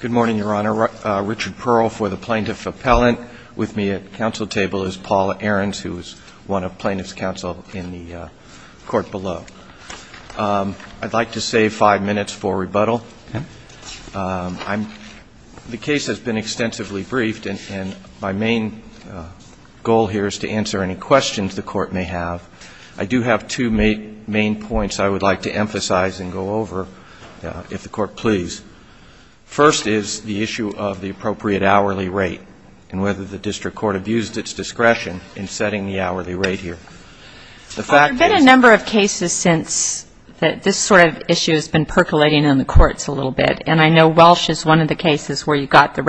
Good morning, Your Honor. Richard Pearl for the Plaintiff Appellant. With me at the council table is Paula Ahrens, who is one of the plaintiffs' counsel in the court below. I'd like to save five minutes for rebuttal. The case has been extensively briefed, and my main goal here is to answer any questions the Court may have. I do have two main points I would like to emphasize and go over, if the Court please. First is the issue of the appropriate hourly rate, and whether the district court abused its discretion in setting the hourly rate here. The fact is — There have been a number of cases since that this sort of issue has been percolating in the courts a little bit, and I know Welsh is one of the cases where you got the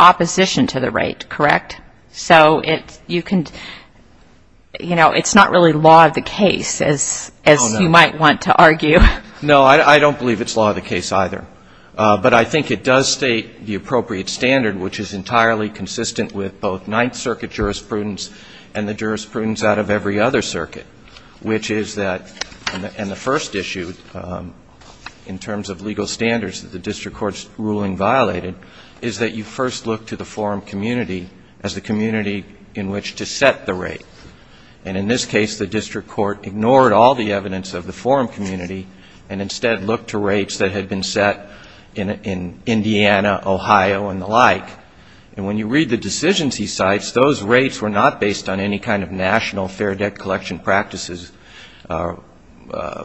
opposition to the rate, correct? So it's — you can — you know, it's not really law of the case, as you might want to argue. No, I don't believe it's law of the case either. But I think it does state the appropriate standard, which is entirely consistent with both Ninth Circuit jurisprudence and the jurisprudence out of every other circuit, which is that — and the first issue, in terms of legal standards that the district court's ruling violated, is that you first look to the forum community as the community in which to set the rate. And in this case, the district court ignored all the evidence of the forum community and instead looked to rates that had been set in Indiana, Ohio, and the like. And when you read the decisions he cites, those rates were not based on any kind of national fair debt collection practices,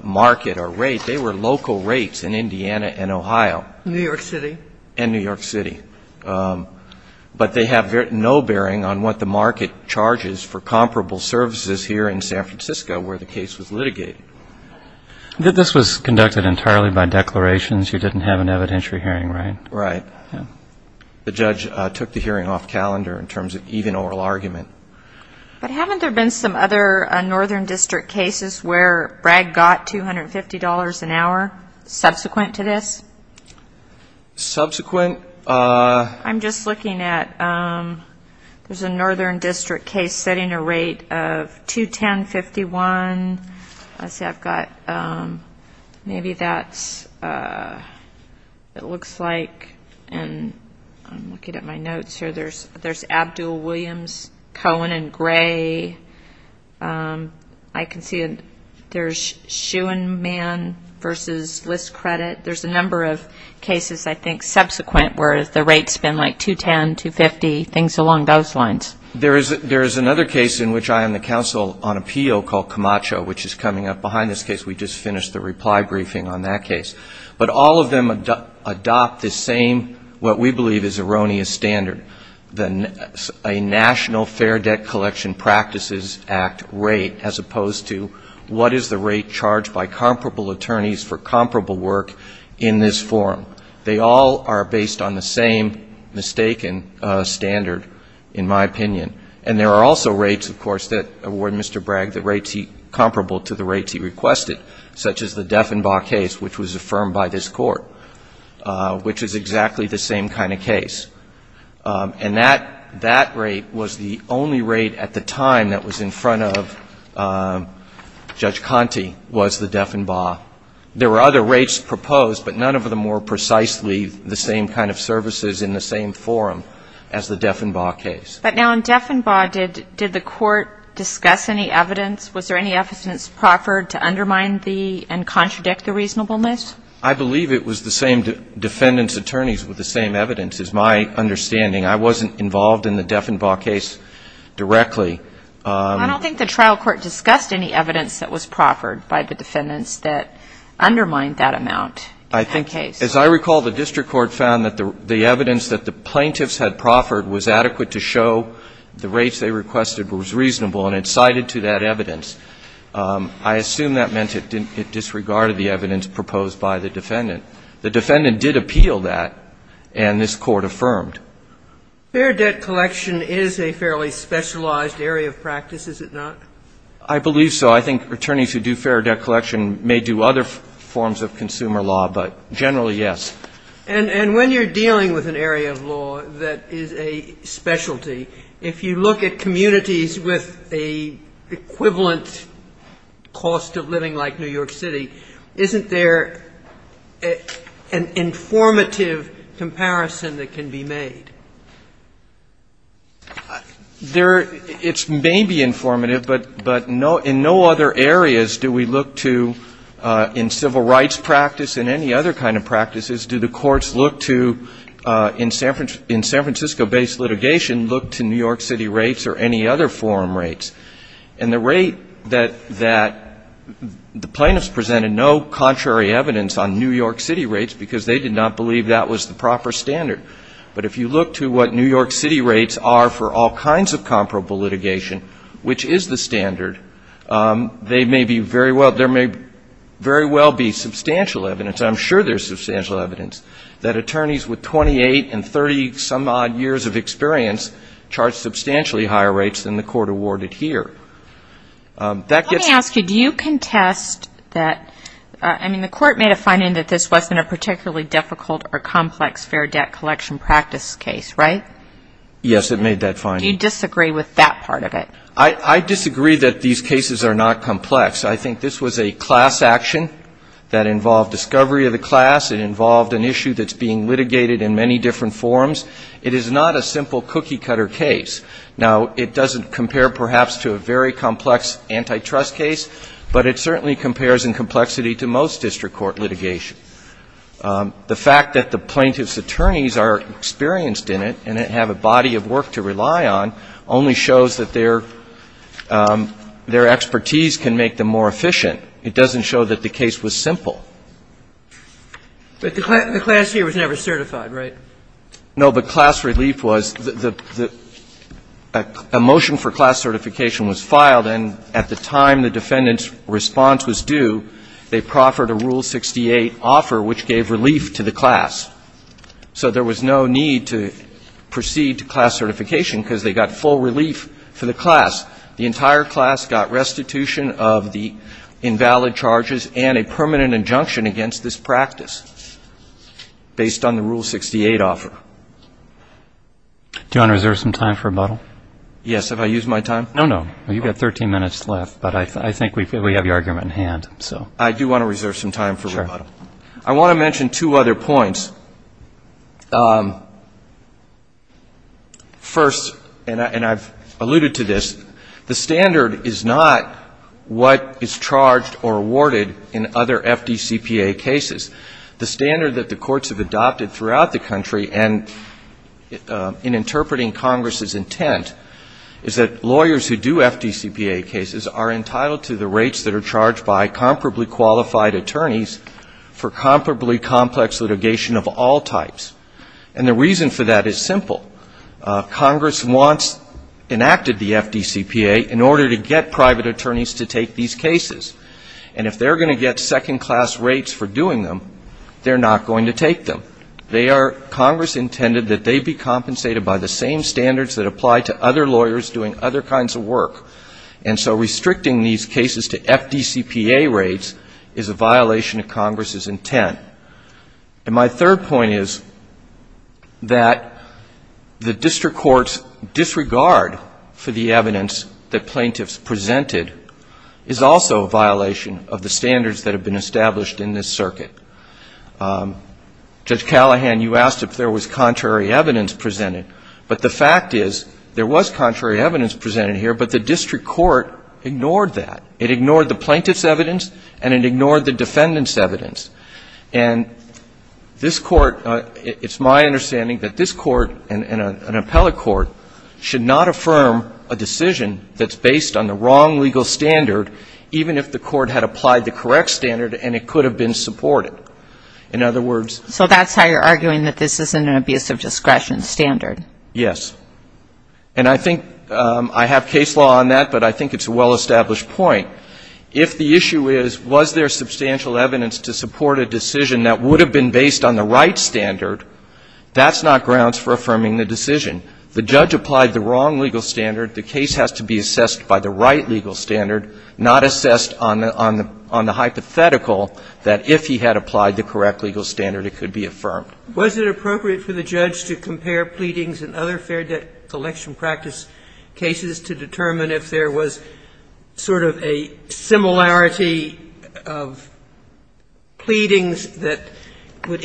market, or rate. They were local rates in Indiana and Ohio. New York City. And New York City. But they have no bearing on what the market charges for comparable services here in San Francisco where the case was litigated. This was conducted entirely by declarations. You didn't have an evidentiary hearing, right? Right. The judge took the hearing off calendar in terms of even oral argument. But haven't there been some other northern district cases where Bragg got $250 an hour subsequent to this? Subsequent? I'm just looking at — there's a northern district case setting a rate of $210.51. Let's see. I've got — maybe that's — it looks like — and I'm looking at my notes here. There's Abdul, Williams, Cohen, and Gray. I can see there's Schoenman versus List Credit. There's a number of cases I think subsequent where the rates have been like $210, $250, things along those lines. There is another case in which I am the counsel on appeal called Camacho which is coming up behind this case. We just finished the reply briefing on that case. But all of them adopt the same, what we believe is erroneous standard, a National Fair Debt Collection Practices Act rate as opposed to what is the rate charged by comparable attorneys for comparable work in this forum. They all are based on the same mistaken standard, in my opinion. And there are also rates, of course, that award Mr. Bragg that rates he — comparable to the rates he requested, such as the Deffenbach case which was affirmed by this Court, which is exactly the same kind of case. And that rate was the only rate at the time that was in front of Judge Conte was the Deffenbach. There were other rates proposed, but none of them were precisely the same kind of services in the same forum as the Deffenbach case. But now in Deffenbach, did the Court discuss any evidence? Was there any evidence proffered to undermine the and contradict the reasonableness? I believe it was the same defendants' attorneys with the same evidence, is my understanding. I wasn't involved in the Deffenbach case directly. I don't think the trial court discussed any evidence that was proffered by the defendants that undermined that amount in that case. As I recall, the district court found that the evidence that the plaintiffs had proffered was adequate to show the rates they requested was reasonable, and it cited to that evidence. I assume that meant it disregarded the evidence proposed by the defendant. The defendant did appeal that, and this Court affirmed. Fair debt collection is a fairly specialized area of practice, is it not? I believe so. I think attorneys who do fair debt collection may do other forms of consumer law, but generally, yes. And when you're dealing with an area of law that is a specialty, if you look at communities with an equivalent cost of living like New York City, isn't there an informative comparison that can be made? It may be informative, but in no other areas do we look to, in civil rights practice and any other kind of practices, do the courts look to, in San Francisco-based litigation, look to New York City rates or any other forum rates. And the rate that the plaintiffs presented, no contrary evidence on New York City rates, because they did not believe that was the proper standard. But if you look to what New York City rates are for all kinds of comparable litigation, which is the standard, they may be very well, there may very well be substantial evidence, I'm sure there's substantial evidence, that attorneys with 28 and 30-some-odd years of experience charge substantially higher rates than the Court awarded here. Let me ask you, do you contest that, I mean, the Court made a finding that this wasn't a particularly difficult or complex fair debt collection practice case, right? Yes, it made that finding. Do you disagree with that part of it? I disagree that these cases are not complex. I think this was a class action that involved an issue that's being litigated in many different forms. It is not a simple cookie-cutter case. Now, it doesn't compare, perhaps, to a very complex antitrust case, but it certainly compares in complexity to most district court litigation. The fact that the plaintiff's attorneys are experienced in it and have a body of work to rely on only shows that their expertise can make them more efficient. It doesn't show that the case was simple. But the class here was never certified, right? No, but class relief was the – a motion for class certification was filed, and at the time the defendant's response was due, they proffered a Rule 68 offer which gave relief to the class. So there was no need to proceed to class certification because they got full relief for the class. The entire class got restitution of the invalid charges and a permanent injunction against this practice based on the Rule 68 offer. Do you want to reserve some time for rebuttal? Yes. Have I used my time? No, no. You've got 13 minutes left, but I think we have your argument in hand. Sure. I want to mention two other points. First, and I've alluded to this, the standard is not what is charged or awarded in other FDCPA cases. The standard that the courts have adopted throughout the country and in interpreting Congress's intent is that lawyers who do FDCPA cases are entitled to the rates that are charged by comparably qualified attorneys for comparably complex litigation of all types. And the reason for that is simple. Congress wants – enacted the FDCPA in order to get private attorneys to take these cases. And if they're going to get second-class rates for doing them, they're not going to take them. They are – Congress intended that they be compensated by the same standards that apply to other lawyers doing other FDCPA rates is a violation of Congress's intent. And my third point is that the district court's disregard for the evidence that plaintiffs presented is also a violation of the standards that have been established in this circuit. Judge Callahan, you asked if there was contrary evidence presented. But the fact is there was contrary evidence presented here, but the district court ignored that. It ignored the plaintiff's evidence, and it ignored the defendant's evidence. And this Court – it's my understanding that this Court and an appellate court should not affirm a decision that's based on the wrong legal standard even if the court had applied the correct standard and it could have been supported. In other words – So that's how you're arguing that this isn't an abuse of discretion standard? Yes. And I think – I have case law on that, but I think it's a well-established point. If the issue is, was there substantial evidence to support a decision that would have been based on the right standard, that's not grounds for affirming the decision. The judge applied the wrong legal standard. The case has to be assessed by the right legal standard, not assessed on the hypothetical that if he had applied the correct legal standard it could be affirmed. Was it appropriate for the judge to compare pleadings in other fair debt collection practice cases to determine if there was sort of a similarity of pleadings that would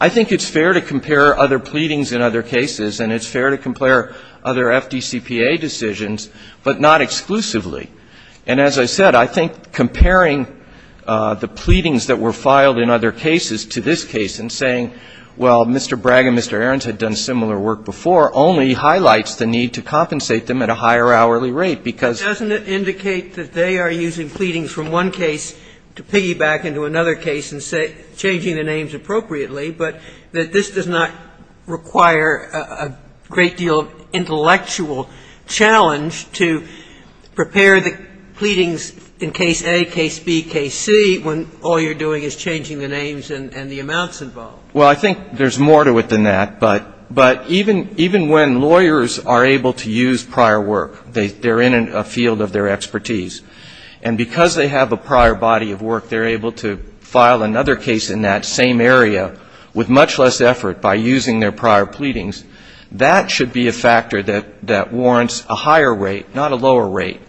I think it's fair to compare other pleadings in other cases, and it's fair to compare other FDCPA decisions, but not exclusively. And as I said, I think comparing the pleadings that were filed in other cases to this case and saying, well, Mr. Bragg and Mr. Ahrens had done similar work before, only highlights the need to compensate them at a higher hourly rate, because It doesn't indicate that they are using pleadings from one case to piggyback into another case and changing the names appropriately, but that this does not require a great deal of intellectual challenge to prepare the pleadings in case A, case B, case C, when all you're doing is changing the names and the amounts involved. Well, I think there's more to it than that. But even when lawyers are able to use prior work, they're in a field of their expertise, and because they have a prior body of work, they're able to file another case in that same area with much less effort by using their prior pleadings. That should be a factor that warrants a higher rate, not a lower rate,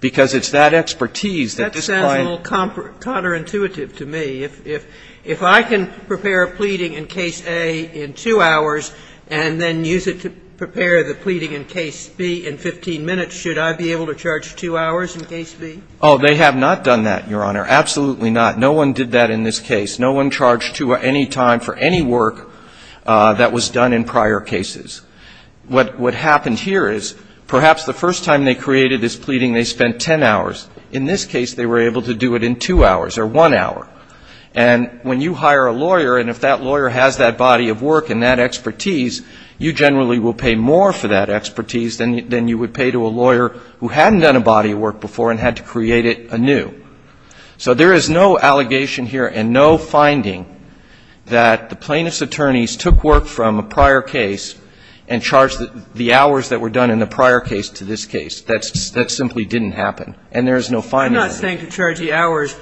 because it's that expertise that describes That sounds a little counterintuitive to me. If I can prepare a pleading in case A in 2 hours and then use it to prepare the pleading in case B in 15 minutes, should I be able to charge 2 hours in case B? Oh, they have not done that, Your Honor, absolutely not. No one did that in this case. No one charged 2 hours any time for any work that was done in prior cases. What happened here is perhaps the first time they created this pleading, they spent 10 hours. In this case, they were able to do it in 2 hours or 1 hour. And when you hire a lawyer and if that lawyer has that body of work and that expertise, you generally will pay more for that expertise than you would pay to a lawyer who hadn't done a body of work before and had to create it anew. So there is no allegation here and no finding that the plaintiff's attorneys took work from a prior case and charged the hours that were done in the prior case to this case. And there is no finding of that. I'm not saying to charge the hours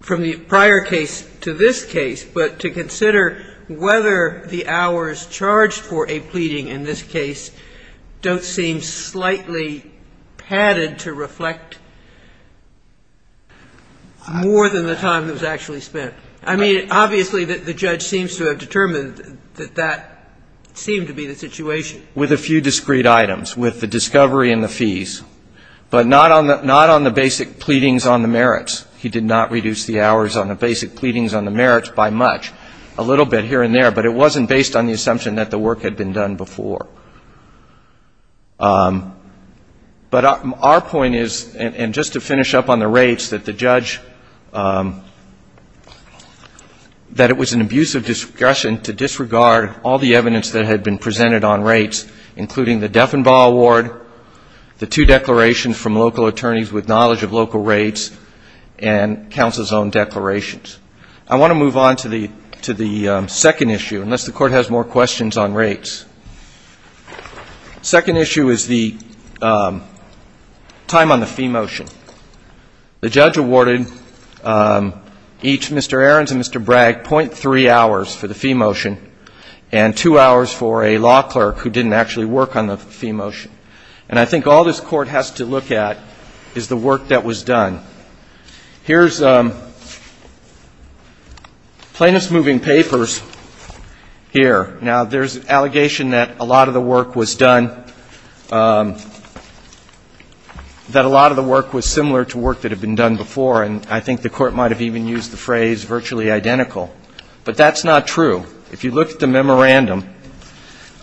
from the prior case to this case, but to consider whether the hours charged for a pleading in this case don't seem slightly padded to reflect more than the time that was actually spent. I mean, obviously, the judge seems to have determined that that seemed to be the situation. He did it with a few discreet items, with the discovery and the fees, but not on the basic pleadings on the merits. He did not reduce the hours on the basic pleadings on the merits by much, a little bit here and there. But it wasn't based on the assumption that the work had been done before. But our point is, and just to finish up on the rates, that the judge, that it was an on rates, including the Deffenbaugh award, the two declarations from local attorneys with knowledge of local rates, and counsel's own declarations. I want to move on to the second issue, unless the Court has more questions on rates. The second issue is the time on the fee motion. The judge awarded each, Mr. Ahrens and Mr. Bragg, .3 hours for the fee motion, and two hours for a law clerk who didn't actually work on the fee motion. And I think all this Court has to look at is the work that was done. Here's plaintiff's moving papers here. Now, there's an allegation that a lot of the work was done, that a lot of the work was similar to work that had been done before, and I think the Court might have even used the phrase virtually identical. But that's not true. If you look at the memorandum,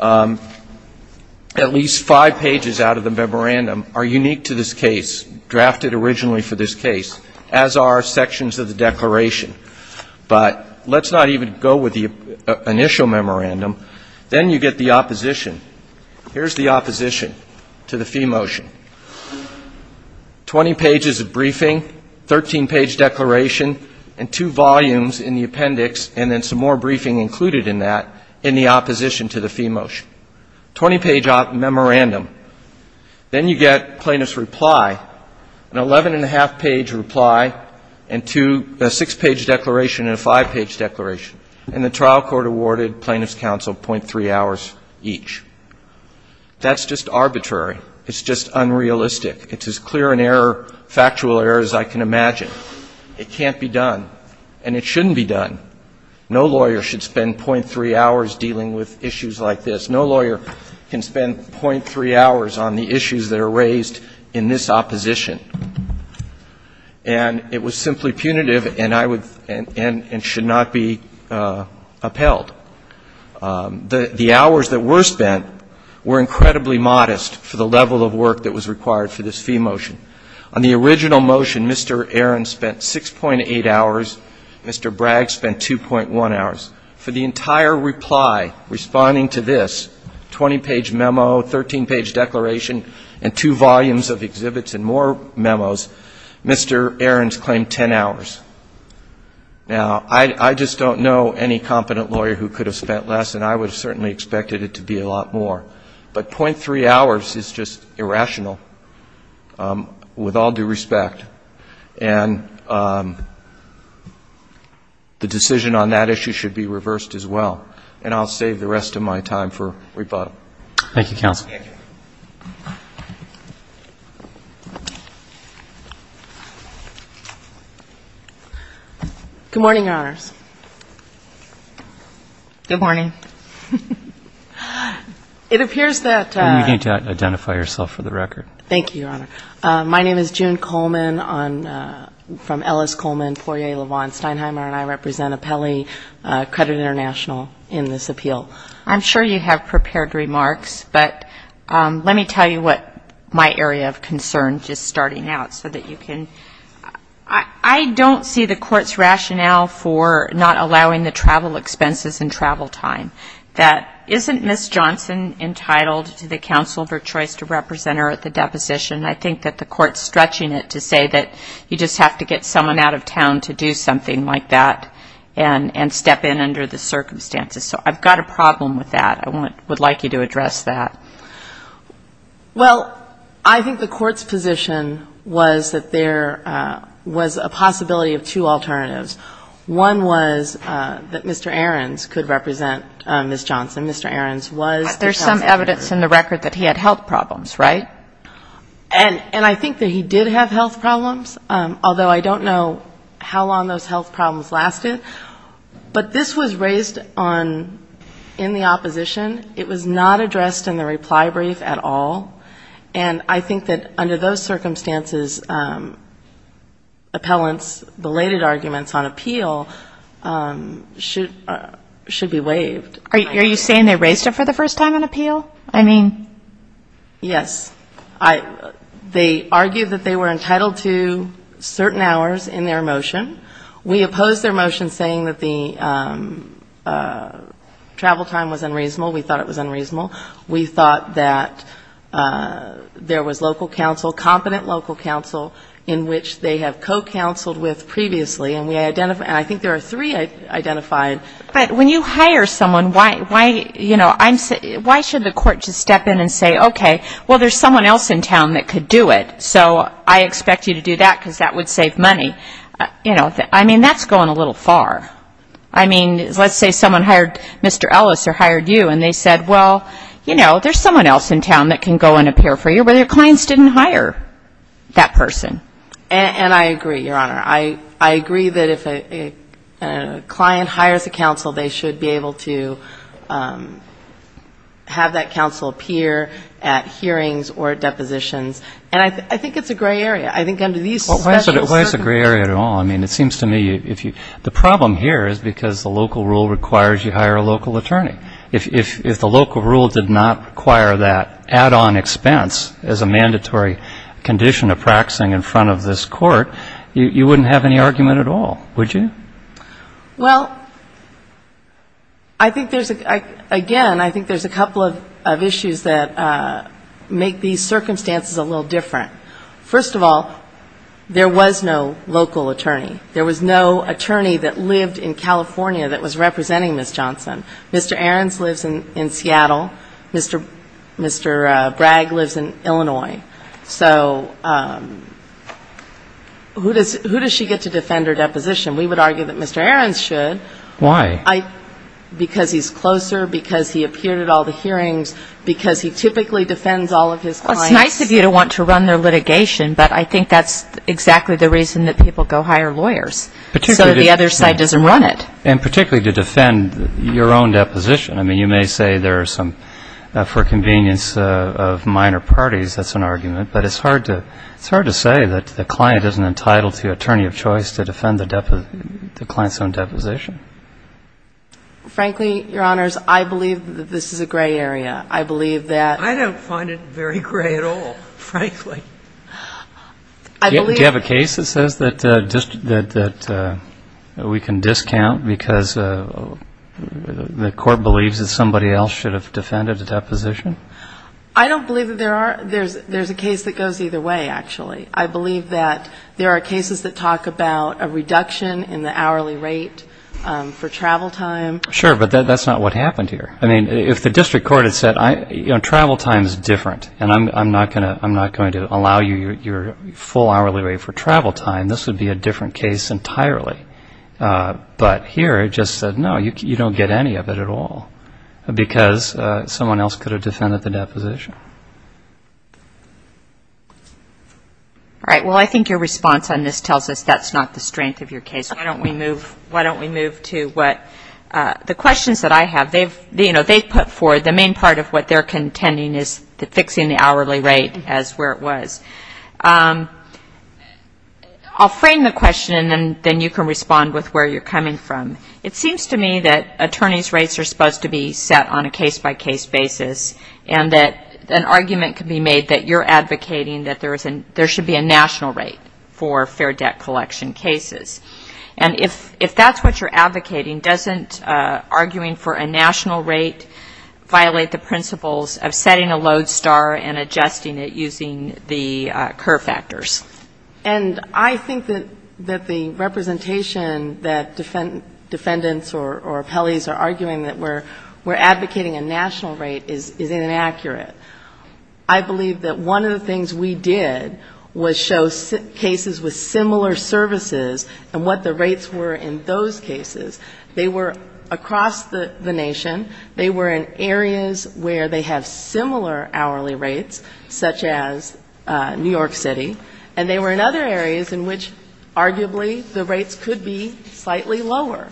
at least five pages out of the memorandum are unique to this case, drafted originally for this case, as are sections of the declaration. But let's not even go with the initial memorandum. Then you get the opposition. Here's the opposition to the fee motion. Twenty pages of briefing, 13-page declaration, and two volumes in the appendix, and then some more briefing included in that in the opposition to the fee motion. Twenty-page memorandum. Then you get plaintiff's reply, an 11-and-a-half-page reply and two — a six-page declaration and a five-page declaration. And the trial court awarded plaintiff's counsel .3 hours each. That's just arbitrary. It's just unrealistic. It's as clear an error, factual error, as I can imagine. It can't be done. And it shouldn't be done. No lawyer should spend .3 hours dealing with issues like this. No lawyer can spend .3 hours on the issues that are raised in this opposition. And it was simply punitive and I would — and should not be upheld. The hours that were spent were incredibly modest for the level of work that was required for this fee motion. On the original motion, Mr. Aaron spent 6.8 hours. Mr. Bragg spent 2.1 hours. For the entire reply, responding to this, 20-page memo, 13-page declaration, and two volumes of exhibits and more memos, Mr. Aaron's claimed 10 hours. Now, I just don't know any competent lawyer who could have spent less, and I would have certainly expected it to be a lot more. But .3 hours is just irrational. With all due respect, and the decision on that issue should be reversed as well. And I'll save the rest of my time for rebuttal. Thank you, Counsel. Thank you. Good morning, Your Honors. Good morning. It appears that — You need to identify yourself for the record. Thank you, Your Honor. My name is June Coleman from Ellis Coleman, Poirier, LaVaughn, Steinheimer, and I represent Apelli Credit International in this appeal. I'm sure you have prepared remarks, but let me tell you what my area of concern, just starting out, so that you can — I don't see the court's rationale for not allowing the travel expenses and travel time. That isn't Ms. Johnson entitled to the counsel of her choice to represent her at the deposition. I think that the court's stretching it to say that you just have to get someone out of town to do something like that and step in under the circumstances. So I've got a problem with that. I would like you to address that. Well, I think the court's position was that there was a possibility of two alternatives. One was that Mr. Ahrens could represent Ms. Johnson. Mr. Ahrens was the counsel. There's some evidence in the record that he had health problems, right? And I think that he did have health problems, although I don't know how long those health problems lasted. But this was raised in the opposition. It was not addressed in the reply brief at all. And I think that under those circumstances, appellants' belated arguments on appeal should be waived. Are you saying they raised it for the first time on appeal? Yes. They argued that they were entitled to certain hours in their motion. We opposed their motion saying that the travel time was unreasonable. We thought it was unreasonable. We thought that there was local counsel, competent local counsel, in which they have co-counseled with previously. And I think there are three identified. But when you hire someone, why should the court just step in and say, okay, well, there's someone else in town that could do it, so I expect you to do that because that would save money. I mean, that's going a little far. I mean, let's say someone hired Mr. Ellis or hired you, and they said, well, you know, there's someone else in town that can go and appear for you, but their clients didn't hire that person. And I agree, Your Honor. I agree that if a client hires a counsel, they should be able to have that counsel appear at hearings or at depositions. And I think it's a gray area. I think under these circumstances. Why is it a gray area at all? I mean, it seems to me the problem here is because the local rule requires you hire a local attorney. If the local rule did not require that add-on expense as a mandatory condition of practicing in front of this court, you wouldn't have any argument at all, would you? Well, I think there's, again, I think there's a couple of issues that make these circumstances a little different. First of all, there was no local attorney. There was no attorney that lived in California that was representing Ms. Johnson. Mr. Ahrens lives in Seattle. Mr. Bragg lives in Illinois. So who does she get to defend her deposition? We would argue that Mr. Ahrens should. Why? Because he's closer, because he appeared at all the hearings, because he typically defends all of his clients. Well, it's nice of you to want to run their litigation, but I think that's exactly the reason that people go hire lawyers, so that the other side doesn't run it. And particularly to defend your own deposition. I mean, you may say there are some, for convenience of minor parties, that's an argument, but it's hard to say that the client isn't entitled to attorney of choice to defend the client's own deposition. Frankly, Your Honors, I believe that this is a gray area. I believe that ---- I don't find it very gray at all, frankly. Do you have a case that says that we can discount because the court believes that somebody else should have defended the deposition? I don't believe that there are ---- there's a case that goes either way, actually. I believe that there are cases that talk about a reduction in the hourly rate for travel time. Sure, but that's not what happened here. I mean, if the district court had said, you know, travel time is different, and I'm not going to allow you your full hourly rate for travel time, this would be a different case entirely. But here it just said, no, you don't get any of it at all, because someone else could have defended the deposition. All right. Well, I think your response on this tells us that's not the strength of your case. Why don't we move to what the questions that I have, they've put forward, the main part of what they're contending is fixing the hourly rate as where it was. I'll frame the question, and then you can respond with where you're coming from. It seems to me that attorneys' rates are supposed to be set on a case-by-case basis and that an argument can be made that you're advocating that there should be a national rate for fair debt collection cases. And if that's what you're advocating, doesn't arguing for a national rate violate the principles of setting a load star and adjusting it using the curve factors? And I think that the representation that defendants or appellees are arguing that we're advocating a national rate is inaccurate. I believe that one of the things we did was show cases with similar services and what the rates were in those cases. They were across the nation, they were in areas where they have similar hourly rates, such as New York City, and they were in other areas in which arguably the rates could be slightly lower.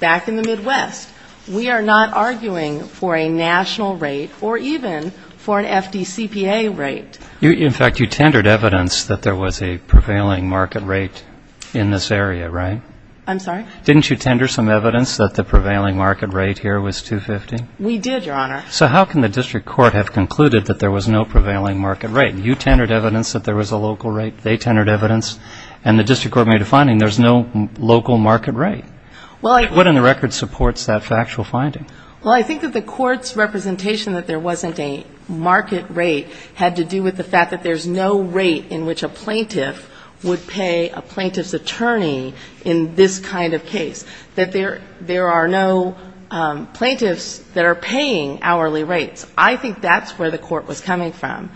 Back in the Midwest, we are not arguing for a national rate or even for an FDCPA rate. In fact, you tendered evidence that there was a prevailing market rate in this area, right? I'm sorry? Didn't you tender some evidence that the prevailing market rate here was 250? We did, Your Honor. So how can the district court have concluded that there was no prevailing market rate? You tendered evidence that there was a local rate, they tendered evidence, and the district court made a finding there's no local market rate. What in the record supports that factual finding? Well, I think that the court's representation that there wasn't a market rate had to do with the fact that there's no rate in which a plaintiff would pay a plaintiff's attorney in this kind of case, that there are no plaintiffs that are paying hourly rates. I think that's where the court was coming from.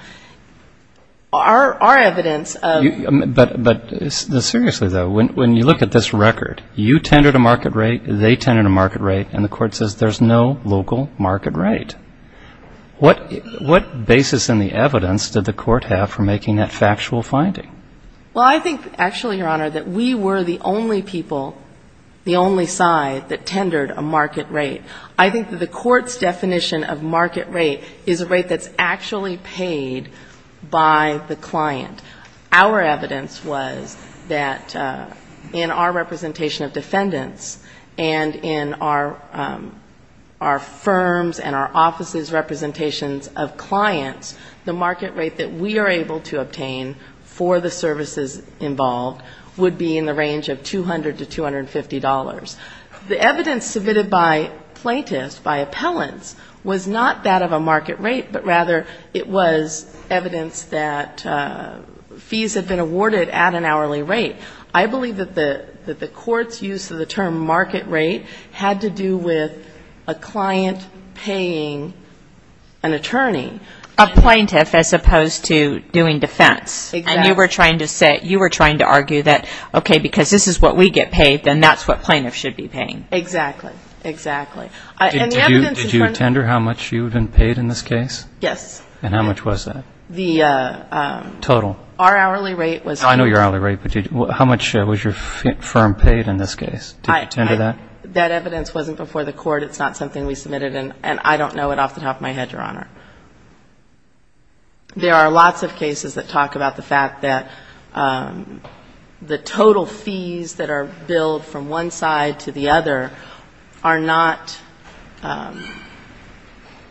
But seriously, though, when you look at this record, you tendered a market rate, they tendered a market rate, and the court says there's no local market rate. What basis in the evidence did the court have for making that factual finding? Well, I think actually, Your Honor, that we were the only people, the only side that tendered a market rate. I think that the court's definition of market rate is a rate that's actually paid by the client. Our evidence was that in our representation of defendants and in our firms and our offices' representations of clients, the market rate that we are able to obtain for the services involved would be in the range of $200 to $250. The evidence submitted by plaintiffs, by appellants, was not that of a market rate, but rather it was evidence that fees had been awarded at an hourly rate. I believe that the court's use of the term market rate had to do with a client paying an attorney. A plaintiff as opposed to doing defense. And you were trying to argue that, okay, because this is what we get paid, then that's what plaintiffs should be paying. Exactly. Did you tender how much you had been paid in this case? Yes. And how much was that? Total. I know your hourly rate, but how much was your firm paid in this case? Did you tender that? That evidence wasn't before the court. It's not something we submitted, and I don't know it off the top of my head, Your Honor. There are lots of cases that talk about the fact that the total fees that are billed from one side to the other are not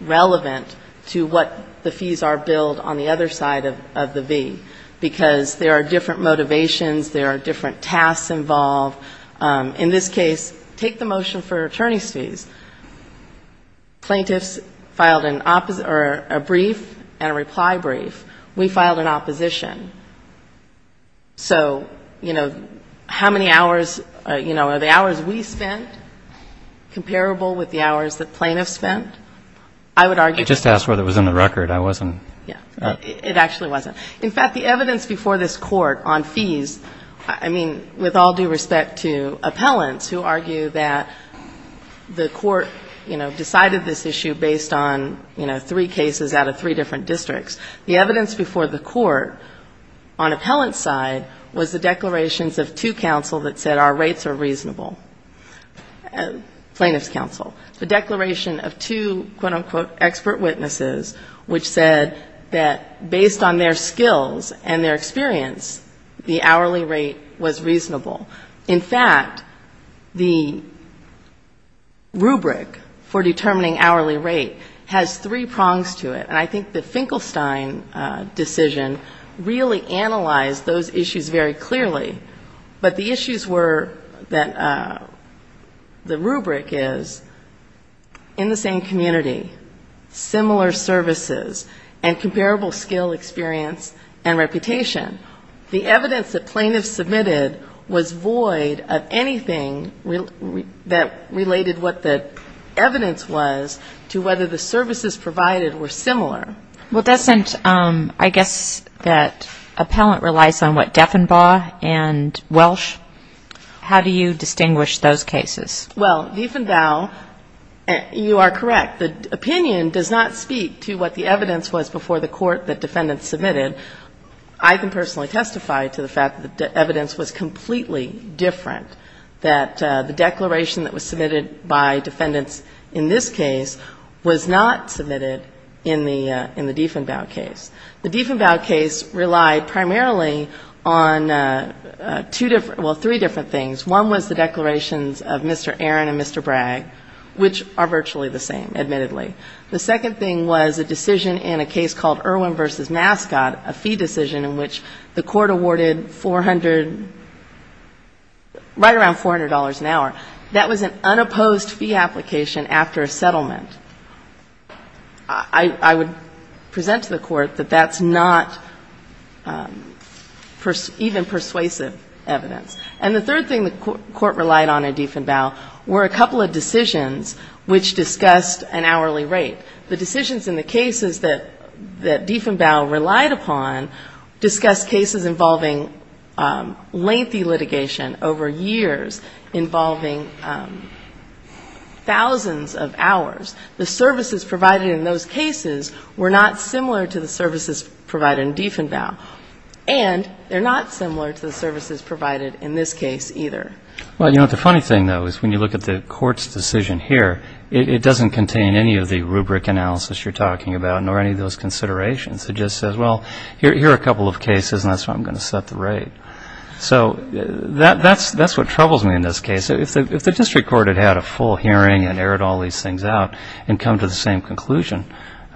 relevant to what the fees are billed on the other side of the V, because there are different motivations, there are different tasks involved. In this case, take the motion for attorney's fees. Plaintiffs filed a brief and a reply brief. We filed an opposition. So, you know, how many hours, you know, are the hours we spent comparable with the hours that plaintiffs spent? I would argue that. I just asked whether it was in the record. I wasn't. It actually wasn't. In fact, the evidence before this court on fees, I mean, with all due respect to appellants who argue that the court, you know, decided this issue based on, you know, three cases out of three different districts. The evidence before the court on appellant side was the declarations of two counsel that said our rates are reasonable. Plaintiffs' counsel. The declaration of two, quote, unquote, expert witnesses, which said that based on their skills and their experience, the hourly rate was reasonable. In fact, the rubric for determining hourly rate has three prongs to it. And I think the Finkelstein decision really analyzed those issues very clearly. But the issues were that the rubric is in the same community, similar services, and comparable skill experience and reputation. The evidence that plaintiffs submitted was void of anything that related what the evidence was to whether the plaintiff was a lawyer or not a lawyer. Well, doesn't, I guess, that appellant relies on what Defenbaugh and Welsh, how do you distinguish those cases? Well, Defenbaugh, you are correct. The opinion does not speak to what the evidence was before the court that defendants submitted. I can personally testify to the fact that the evidence was completely different, that the declaration that was submitted by defendants in this case was not submitted in the Defenbaugh case. The Defenbaugh case relied primarily on two different, well, three different things. One was the declarations of Mr. Aaron and Mr. Bragg, which are virtually the same, admittedly. The second thing was a decision in a case called Irwin v. Mascot, a fee decision in which the court awarded 400, right around $400 an hour. That was an unopposed fee application after a settlement. I would present to the court that that's not even persuasive evidence. And the third thing the court relied on in Defenbaugh were a couple of decisions which discussed an hourly rate, the decisions in the cases that Defenbaugh relied upon discussed cases involving lengthy litigation over years, involving thousands of hours. The services provided in those cases were not similar to the services provided in Defenbaugh, and they're not similar to the services provided in this case either. Well, you know, the funny thing, though, is when you look at the court's decision here, it doesn't contain any of the rubric analysis you're talking about nor any of those considerations. It just says, well, here are a couple of cases, and that's how I'm going to set the rate. So that's what troubles me in this case. If the district court had had a full hearing and errored all these things out and come to the same conclusion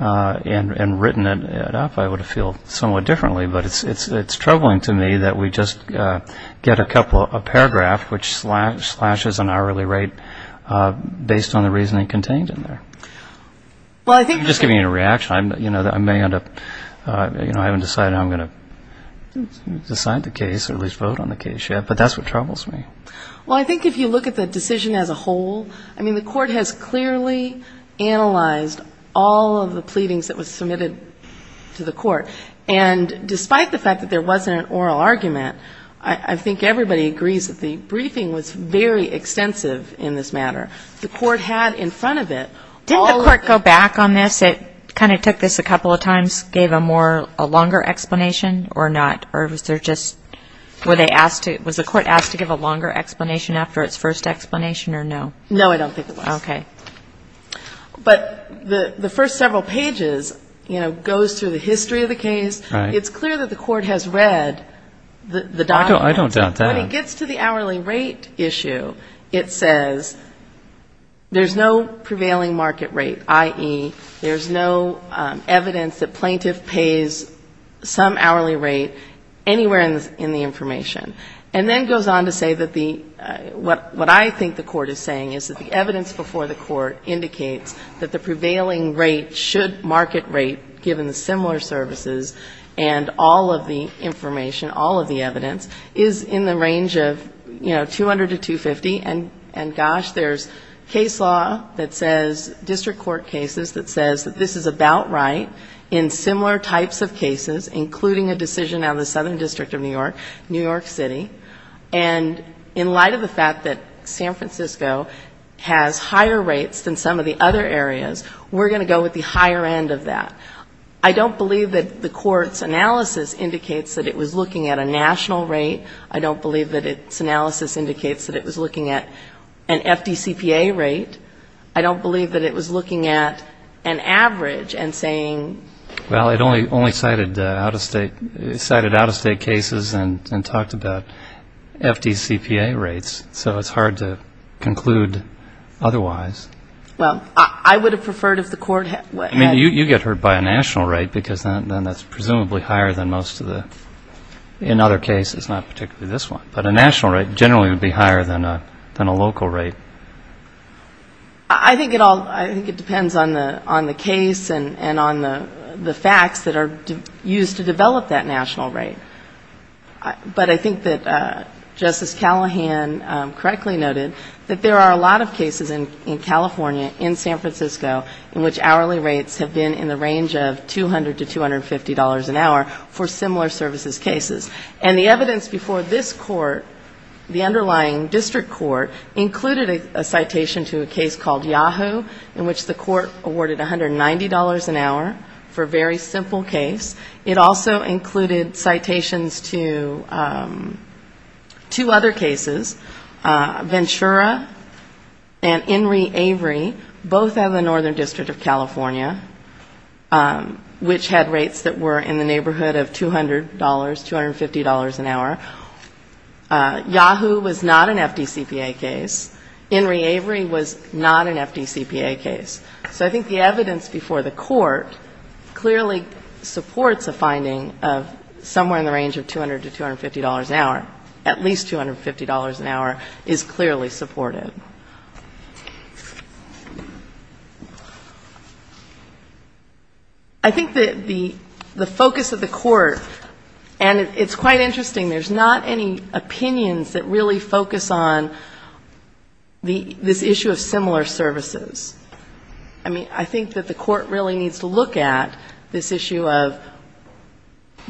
and written it up, I would have felt somewhat differently, but it's troubling to me that we just get a couple of paragraphs which slashes an hourly rate based on the reasoning contained in there. I'm just giving you a reaction. I haven't decided how I'm going to decide the case or at least vote on the case yet, but that's what troubles me. Well, I think if you look at the decision as a whole, I mean, the court has clearly analyzed all of the pleadings that were submitted to the court, and despite the fact that there wasn't an oral argument, I think everybody agrees that the briefing was very extensive in this matter. The court had in front of it all of the ---- Didn't the court go back on this? It kind of took this a couple of times, gave a longer explanation or not, or was there just ---- were they asked to ---- was the court asked to give a longer explanation after its first explanation or no? No, I don't think it was. Okay. But the first several pages, you know, goes through the history of the case. Right. It's clear that the court has read the document. I don't doubt that. When it gets to the hourly rate issue, it says there's no prevailing market rate, i.e., there's no evidence that plaintiff pays some hourly rate anywhere in the information. And then goes on to say that the ---- what I think the court is saying is that the evidence before the court indicates that the prevailing rate should market rate, given the similar services and all of the information, all of the evidence, is in the range of, you know, 200 to 250. And gosh, there's case law that says, district court cases, that says that this is about right in similar types of cases, including a decision on the Southern District of New York, New York City, and in light of the fact that San Francisco has higher rates than some of the other areas, we're going to go with the higher end of that. I don't believe that the court's analysis indicates that it was looking at a national rate. I don't believe that its analysis indicates that it was looking at an FDCPA rate. I don't believe that it was looking at an average and saying ---- Well, we only cited out-of-state cases and talked about FDCPA rates, so it's hard to conclude otherwise. Well, I would have preferred if the court had ---- I mean, you get hurt by a national rate, because then that's presumably higher than most of the ---- in other cases, not particularly this one, but a national rate generally would be higher than a local rate. I think it all ---- I think it depends on the case and on the facts that are used to develop that national rate. But I think that Justice Callahan correctly noted that there are a lot of cases in California, in San Francisco, in which hourly rates have been in the range of $200 to $250 an hour for similar services cases. And the evidence before this court, the underlying district court, included a citation to a case called Yahoo!, in which the court awarded $190 an hour for a very simple case. It also included citations to two other cases, Ventura and Enri Avery, both out of the Northern District of California, which had rates that were in the neighborhood of $200, $250 an hour. Yahoo! was not an FDCPA case. Enri Avery was not an FDCPA case. So I think the evidence before the court clearly supports a finding of somewhere in the range of $200 to $250 an hour. At least $250 an hour is clearly supported. I think that the focus of the court, and it's quite interesting, there's not any opinions that really focus on this issue of similar services. I mean, I think that the court really needs to look at this issue of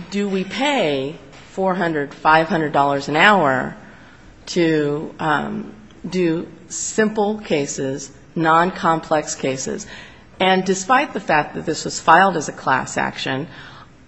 do we pay $400, $500 an hour to do simple cases, noncomplex cases. And despite the fact that this was filed as a class action,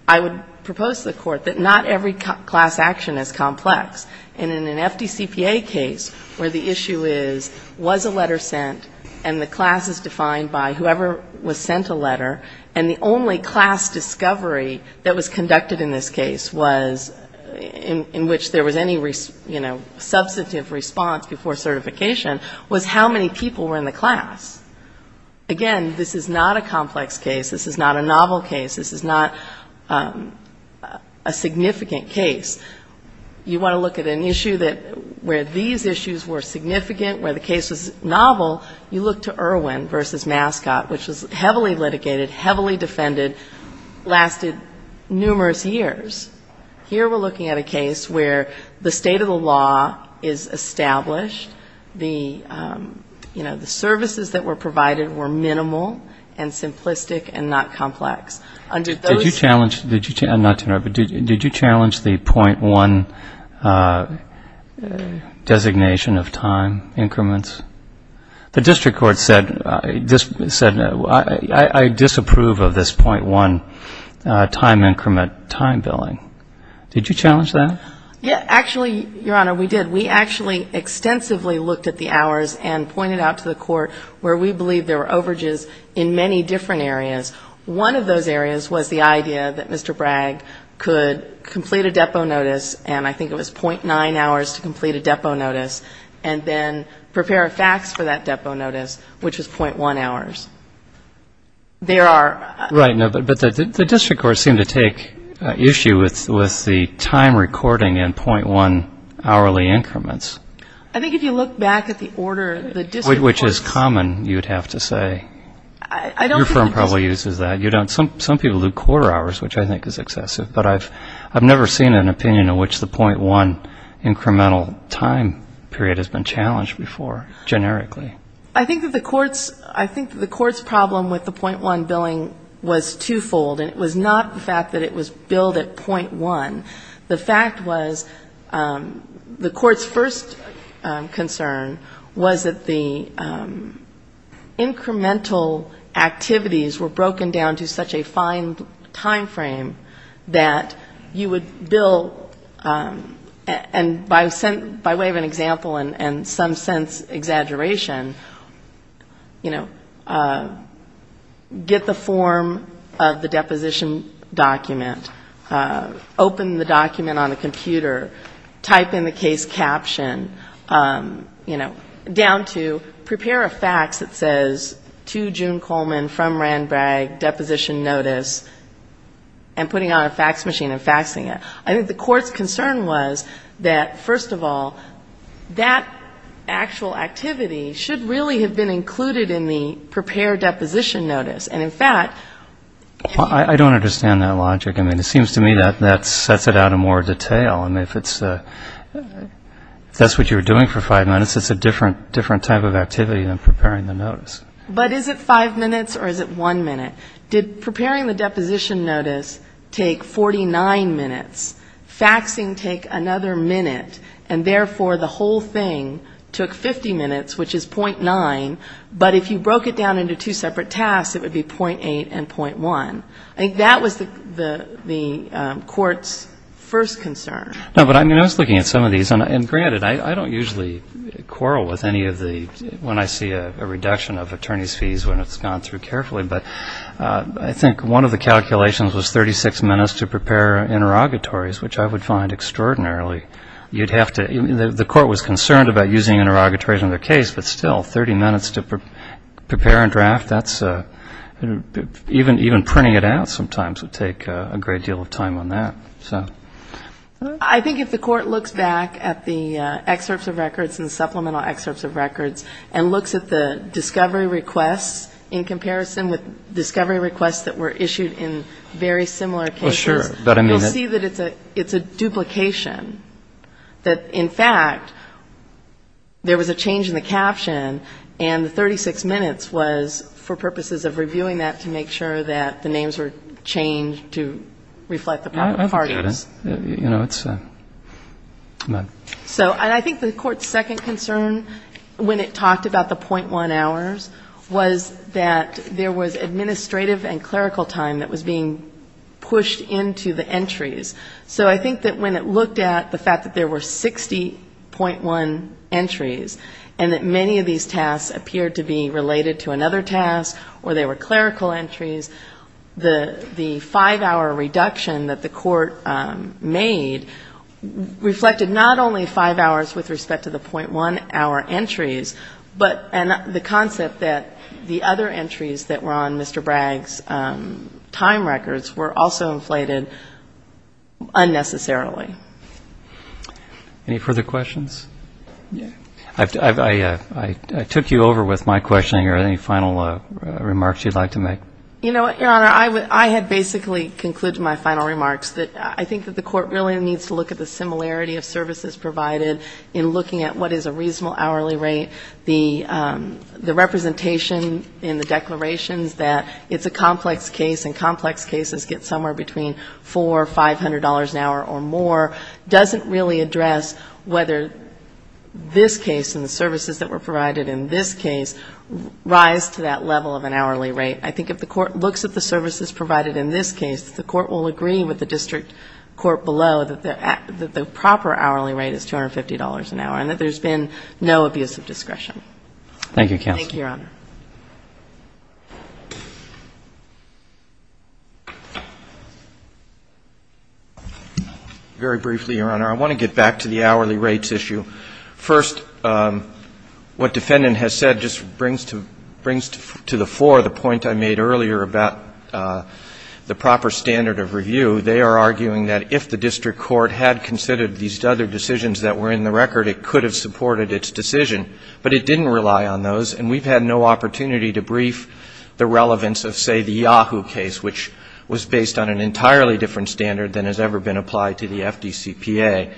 I would propose to the court that not every class action is complex. And in an FDCPA case where the issue is, was a letter sent, and the class is defined by whoever was sent a letter, and the only class discovery that was conducted in this case was, in which there was any, you know, substantive response before certification, was how many people were in the class. Again, this is not a complex case. This is not a novel case. This is not a significant case. You want to look at an issue that, where these issues were significant, where the case was novel, you look to Irwin v. Mascot, which was heavily litigated, heavily defended, lasted numerous years. Here we're looking at a case where the state of the law is established, the state of the law is established. And the, you know, the services that were provided were minimal and simplistic and not complex. Robert Adler Did you challenge the 0.1 designation of time increments? The district court said, I disapprove of this 0.1 time increment time billing. Did you challenge that? I did. I actually looked at the hours and pointed out to the court where we believe there were overages in many different areas. One of those areas was the idea that Mr. Bragg could complete a depot notice, and I think it was 0.9 hours to complete a depot notice, and then prepare a fax for that depot notice, which was 0.1 hours. There are other issues, but I didn't see any other. Which is common, you'd have to say. Your firm probably uses that. Some people do quarter hours, which I think is excessive, but I've never seen an opinion in which the 0.1 incremental time period has been challenged before, generically. I think that the court's problem with the 0.1 billing was twofold, and it was not the fact that it was billed at 0.1. The fact was, the court's first concern was that the incremental activities were broken down to such a fine time frame that you would bill, and by way of an example and some sense exaggeration, you know, get the form of the deposition document, open the deposition document, put the document on a computer, type in the case caption, you know, down to prepare a fax that says, to June Coleman, from Rand Bragg, deposition notice, and putting on a fax machine and faxing it. I think the court's concern was that, first of all, that actual activity should really have been included in the prepared deposition notice. And, in fact, if you... I don't understand that logic. I mean, it seems to me that that sets it out in more detail. I mean, if that's what you were doing for five minutes, it's a different type of activity than preparing the notice. But is it five minutes, or is it one minute? Did preparing the deposition notice take 49 minutes, faxing take another minute, and therefore the whole thing took 50 minutes, which is 0.9, but if you broke it down into two separate tasks, it would have been 0.8 and 0.1. I think that was the court's first concern. No, but I mean, I was looking at some of these. And, granted, I don't usually quarrel with any of the, when I see a reduction of attorney's fees when it's gone through carefully, but I think one of the calculations was 36 minutes to prepare interrogatories, which I would find extraordinarily, you'd have to, the court was concerned about using interrogatories on their case, but still, 30 minutes to prepare a draft, that's, even printing it out sometimes would take a great deal of time on that. I think if the court looks back at the excerpts of records and supplemental excerpts of records and looks at the discovery requests in comparison with discovery requests that were issued in very similar cases, you'll see that it's a duplication. That, in fact, there was a change in the caption, and the 36 minutes was for purposes of reviewing that to make sure that the names were changed to reflect the parties. So I think the court's second concern when it talked about the 0.1 hours was that there was administrative and clerical time that was being used, and so I think that when it looked at the fact that there were 60.1 entries, and that many of these tasks appeared to be related to another task, or they were clerical entries, the five-hour reduction that the court made reflected not only five hours with respect to the 0.1-hour entries, but the concept that the other entries that were on Mr. Bragg's time records were also inflated unnecessarily. Any further questions? I took you over with my questioning. Are there any final remarks you'd like to make? You know what, Your Honor, I had basically concluded my final remarks that I think that the court really needs to look at the similarity of services provided in looking at what is a reasonable hourly rate, the representation in the declarations that it's a somewhere between $400, $500 an hour or more doesn't really address whether this case and the services that were provided in this case rise to that level of an hourly rate. I think if the court looks at the services provided in this case, the court will agree with the district court below that the proper hourly rate is $250 an hour, and that there's been no abuse of discretion. Thank you, counsel. Very briefly, Your Honor, I want to get back to the hourly rates issue. First, what defendant has said just brings to the floor the point I made earlier about the proper standard of review. They are arguing that if the district court had considered these other decisions that were in the record, it could have supported its decision, but it didn't rely on those, and we've had no opportunity to brief the relevance of, say, the Yahoo case, which was based on an entirely different standard than has ever been applied to the FDCPA.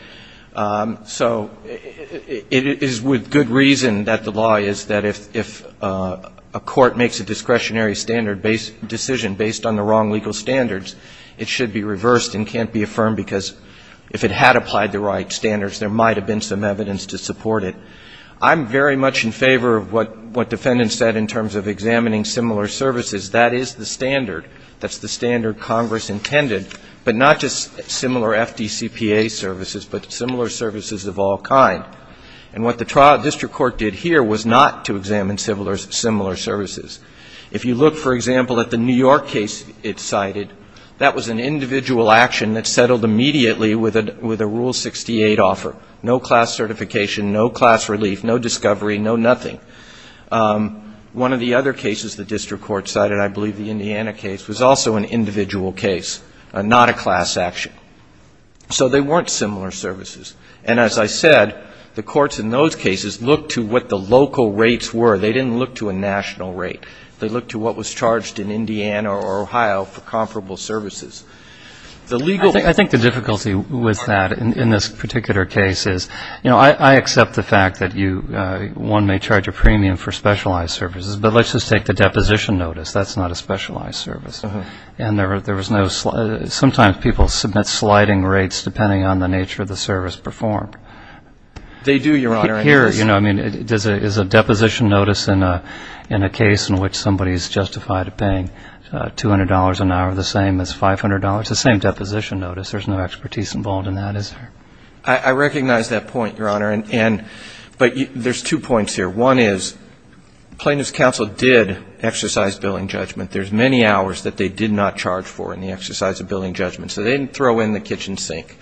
So it is with good reason that the law is that if a court makes a discretionary standard decision based on the wrong legal standards, it should be reversed and can't be affirmed, because if it had applied the right standards, there might have been some evidence to support it. I'm very much in favor of what defendants said in terms of examining similar services. That is the standard. That's the standard Congress intended, but not just similar FDCPA services, but similar services of all kind. And what the district court did here was not to examine similar services. If you look, for example, at the New York case it cited, that was an individual action that settled immediately with a Rule 68 offer. No class certification, no class relief, no discovery, no nothing. One of the other cases the district court cited, I believe the Indiana case, was also an individual case, not a class action. So they weren't similar services. And as I said, the courts in those cases looked to what the local rates were. They didn't look to a national rate. They looked to what was charged in Indiana or Ohio for comparable services. I think the difficulty with that in this particular case is, you know, I accept the fact that one may charge a premium for specialized services, but let's just take the deposition notice. That's not a specialized service. And there was no slide. Sometimes people submit sliding rates depending on the nature of the service performed. They do, Your Honor. Here, you know, I mean, is a deposition notice in a case in which somebody is justified to pay $200 an hour the same as $500? It's the same deposition notice. There's no expertise involved in that, is there? I recognize that point, Your Honor. But there's two points here. One is plaintiff's counsel did exercise billing judgment. There's many hours that they did not charge for in the exercise of billing judgment. So they didn't throw in the kitchen sink.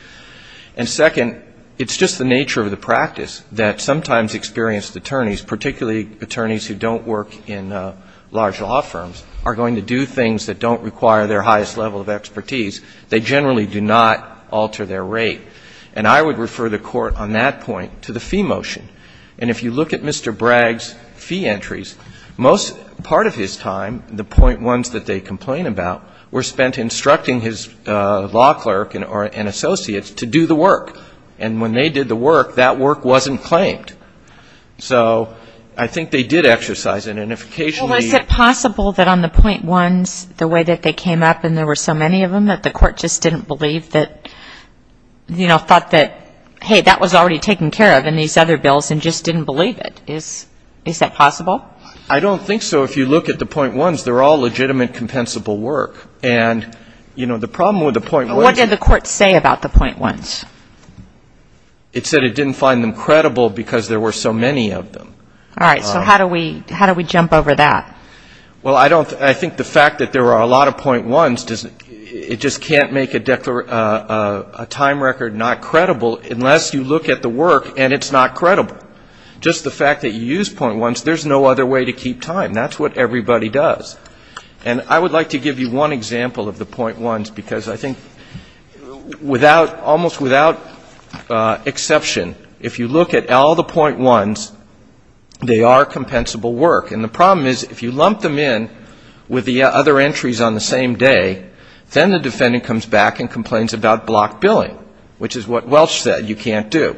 And second, it's just the nature of the practice that sometimes experienced attorneys, particularly attorneys who don't work in large law firms, are going to do things that don't require their highest level of expertise. They generally do not alter their rate. And I would refer the Court on that point to the fee motion. And if you look at Mr. Bragg's fee entries, most part of his time, the point ones that they complain about, were spent instructing his law clerk and associates to do the work. And when they did the work, that work wasn't claimed. So I think they did exercise it. And if occasionally the ---- Well, is it possible that on the point ones, the way that they came up and there were so many of them that the Court just didn't believe that, you know, thought that, hey, that was already taken care of in these other bills and just didn't believe it? Is that possible? I don't think so. If you look at the point ones, they're all legitimate, compensable work. And, you know, the problem with the point ones ---- What did the Court say about the point ones? It said it didn't find them credible because there were so many of them. All right. So how do we jump over that? Well, I think the fact that there are a lot of point ones, it just can't make a time record not credible unless you look at the work and it's not credible. Just the fact that you use point ones, there's no other way to keep time. That's what everybody does. And I would like to give you one example of the point ones, because I think without, almost without exception, if you look at all the point ones, they are compensable work. And the problem is if you lump them in with the other entries on the same day, then the defendant comes back and complains about block billing, which is what Welch said, you can't do.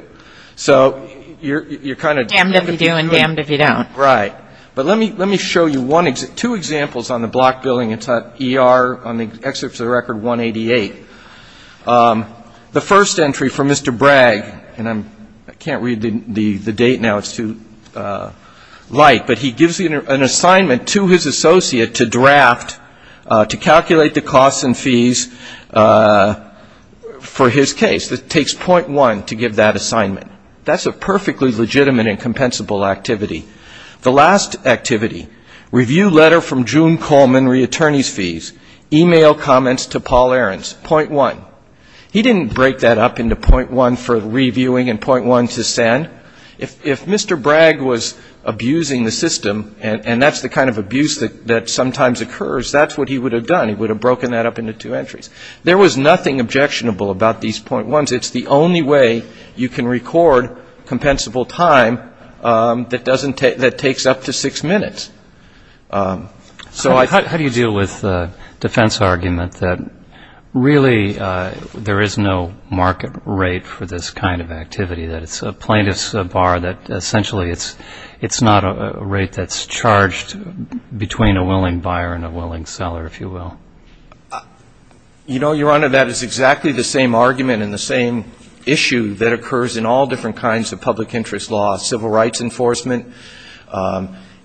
So you're kind of ---- Damned if you do and damned if you don't. Right. But let me show you two examples on the block billing. It's at ER, on the excerpt of the record 188. The first entry from Mr. Bragg, and I can't read the date now, it's too light, but he gives an assignment to his associate to draft, to calculate the costs and fees for his case. It takes point one to give that assignment. That's a perfectly legitimate and compensable activity. The last activity, review letter from June Coleman, reattorney's fees. Email comments to Paul Ahrens, point one. He didn't break that up into point one for reviewing and point one to send. If Mr. Bragg was abusing the system, and that's the kind of abuse that sometimes occurs, that's what he would have done. He would have broken that up into two entries. There was nothing objectionable about these point ones. It's the only way you can record compensable time that takes up to six minutes. So how do you deal with the defense argument that really there is no market rate for this kind of activity, that it's a plaintiff's bar, that essentially it's not a rate that's charged between a willing buyer and a willing seller, if you will? You know, Your Honor, that is exactly the same argument and the same issue that occurs in all different kinds of public interest law, civil rights enforcement.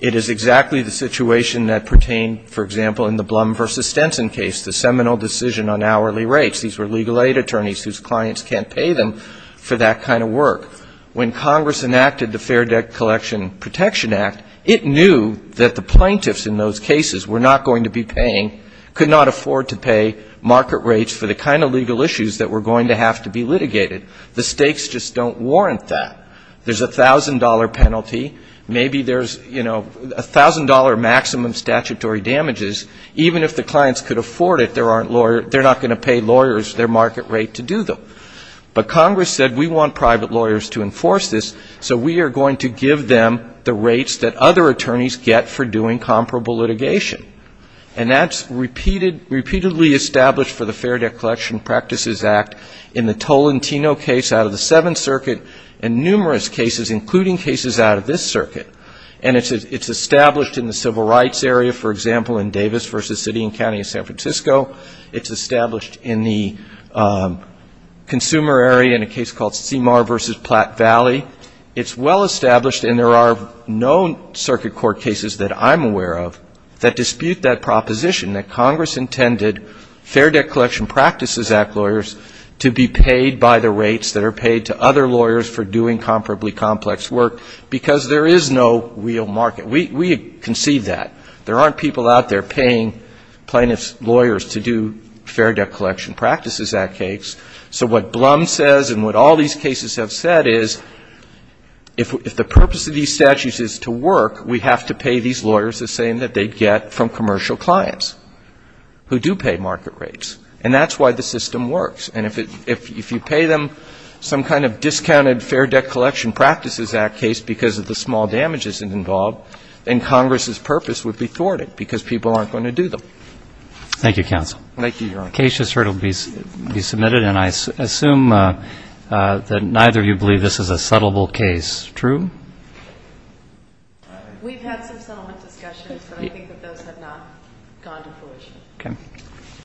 It is exactly the situation that pertained, for example, in the Blum v. Stenson case, the seminal decision on hourly rates. These were legal aid attorneys whose clients can't pay them for that kind of work. When Congress enacted the Fair Debt Collection Protection Act, it knew that the plaintiffs in those cases were not going to be paying, could not afford to pay market rates for the kind of legal issues that were going to have to be litigated. The stakes just don't warrant that. There's a $1,000 penalty. Maybe there's, you know, $1,000 maximum statutory damages. Even if the clients could afford it, they're not going to pay lawyers their market rate to do them. But Congress said we want private lawyers to enforce this, so we are going to give them the rates that other attorneys get for doing comparable litigation. And that's repeatedly established for the Fair Debt Collection Practices Act in the Tolentino case out of the Seventh Circuit and numerous cases, including cases out of this circuit. And it's established in the civil rights area, for example, in Davis v. City and County of San Francisco. It's established in the consumer area in a case called Seymour v. Platte Valley. It's well established, and there are no circuit court cases that I'm aware of that dispute that proposition, that Congress intended Fair Debt Collection Practices Act lawyers to be paid by the rates that are paid to other lawyers for doing comparably complex work, because there is no real market. We concede that. There aren't people out there paying plaintiffs' lawyers to do Fair Debt Collection Practices Act cases. So what Blum says and what all these cases have said is if the purpose of these statutes is to work, we have to pay these lawyers the same that they get from commercial clients who do pay market rates. And that's why the system works. And if you pay them some kind of discounted Fair Debt Collection Practices Act case because of the small damages involved, then Congress's purpose would be thwarted because people aren't going to do them. Thank you, counsel. Case has heard it will be submitted, and I assume that neither of you believe this is a settleable case. True? We've had some settlement discussions, but I think that those have not gone to fruition.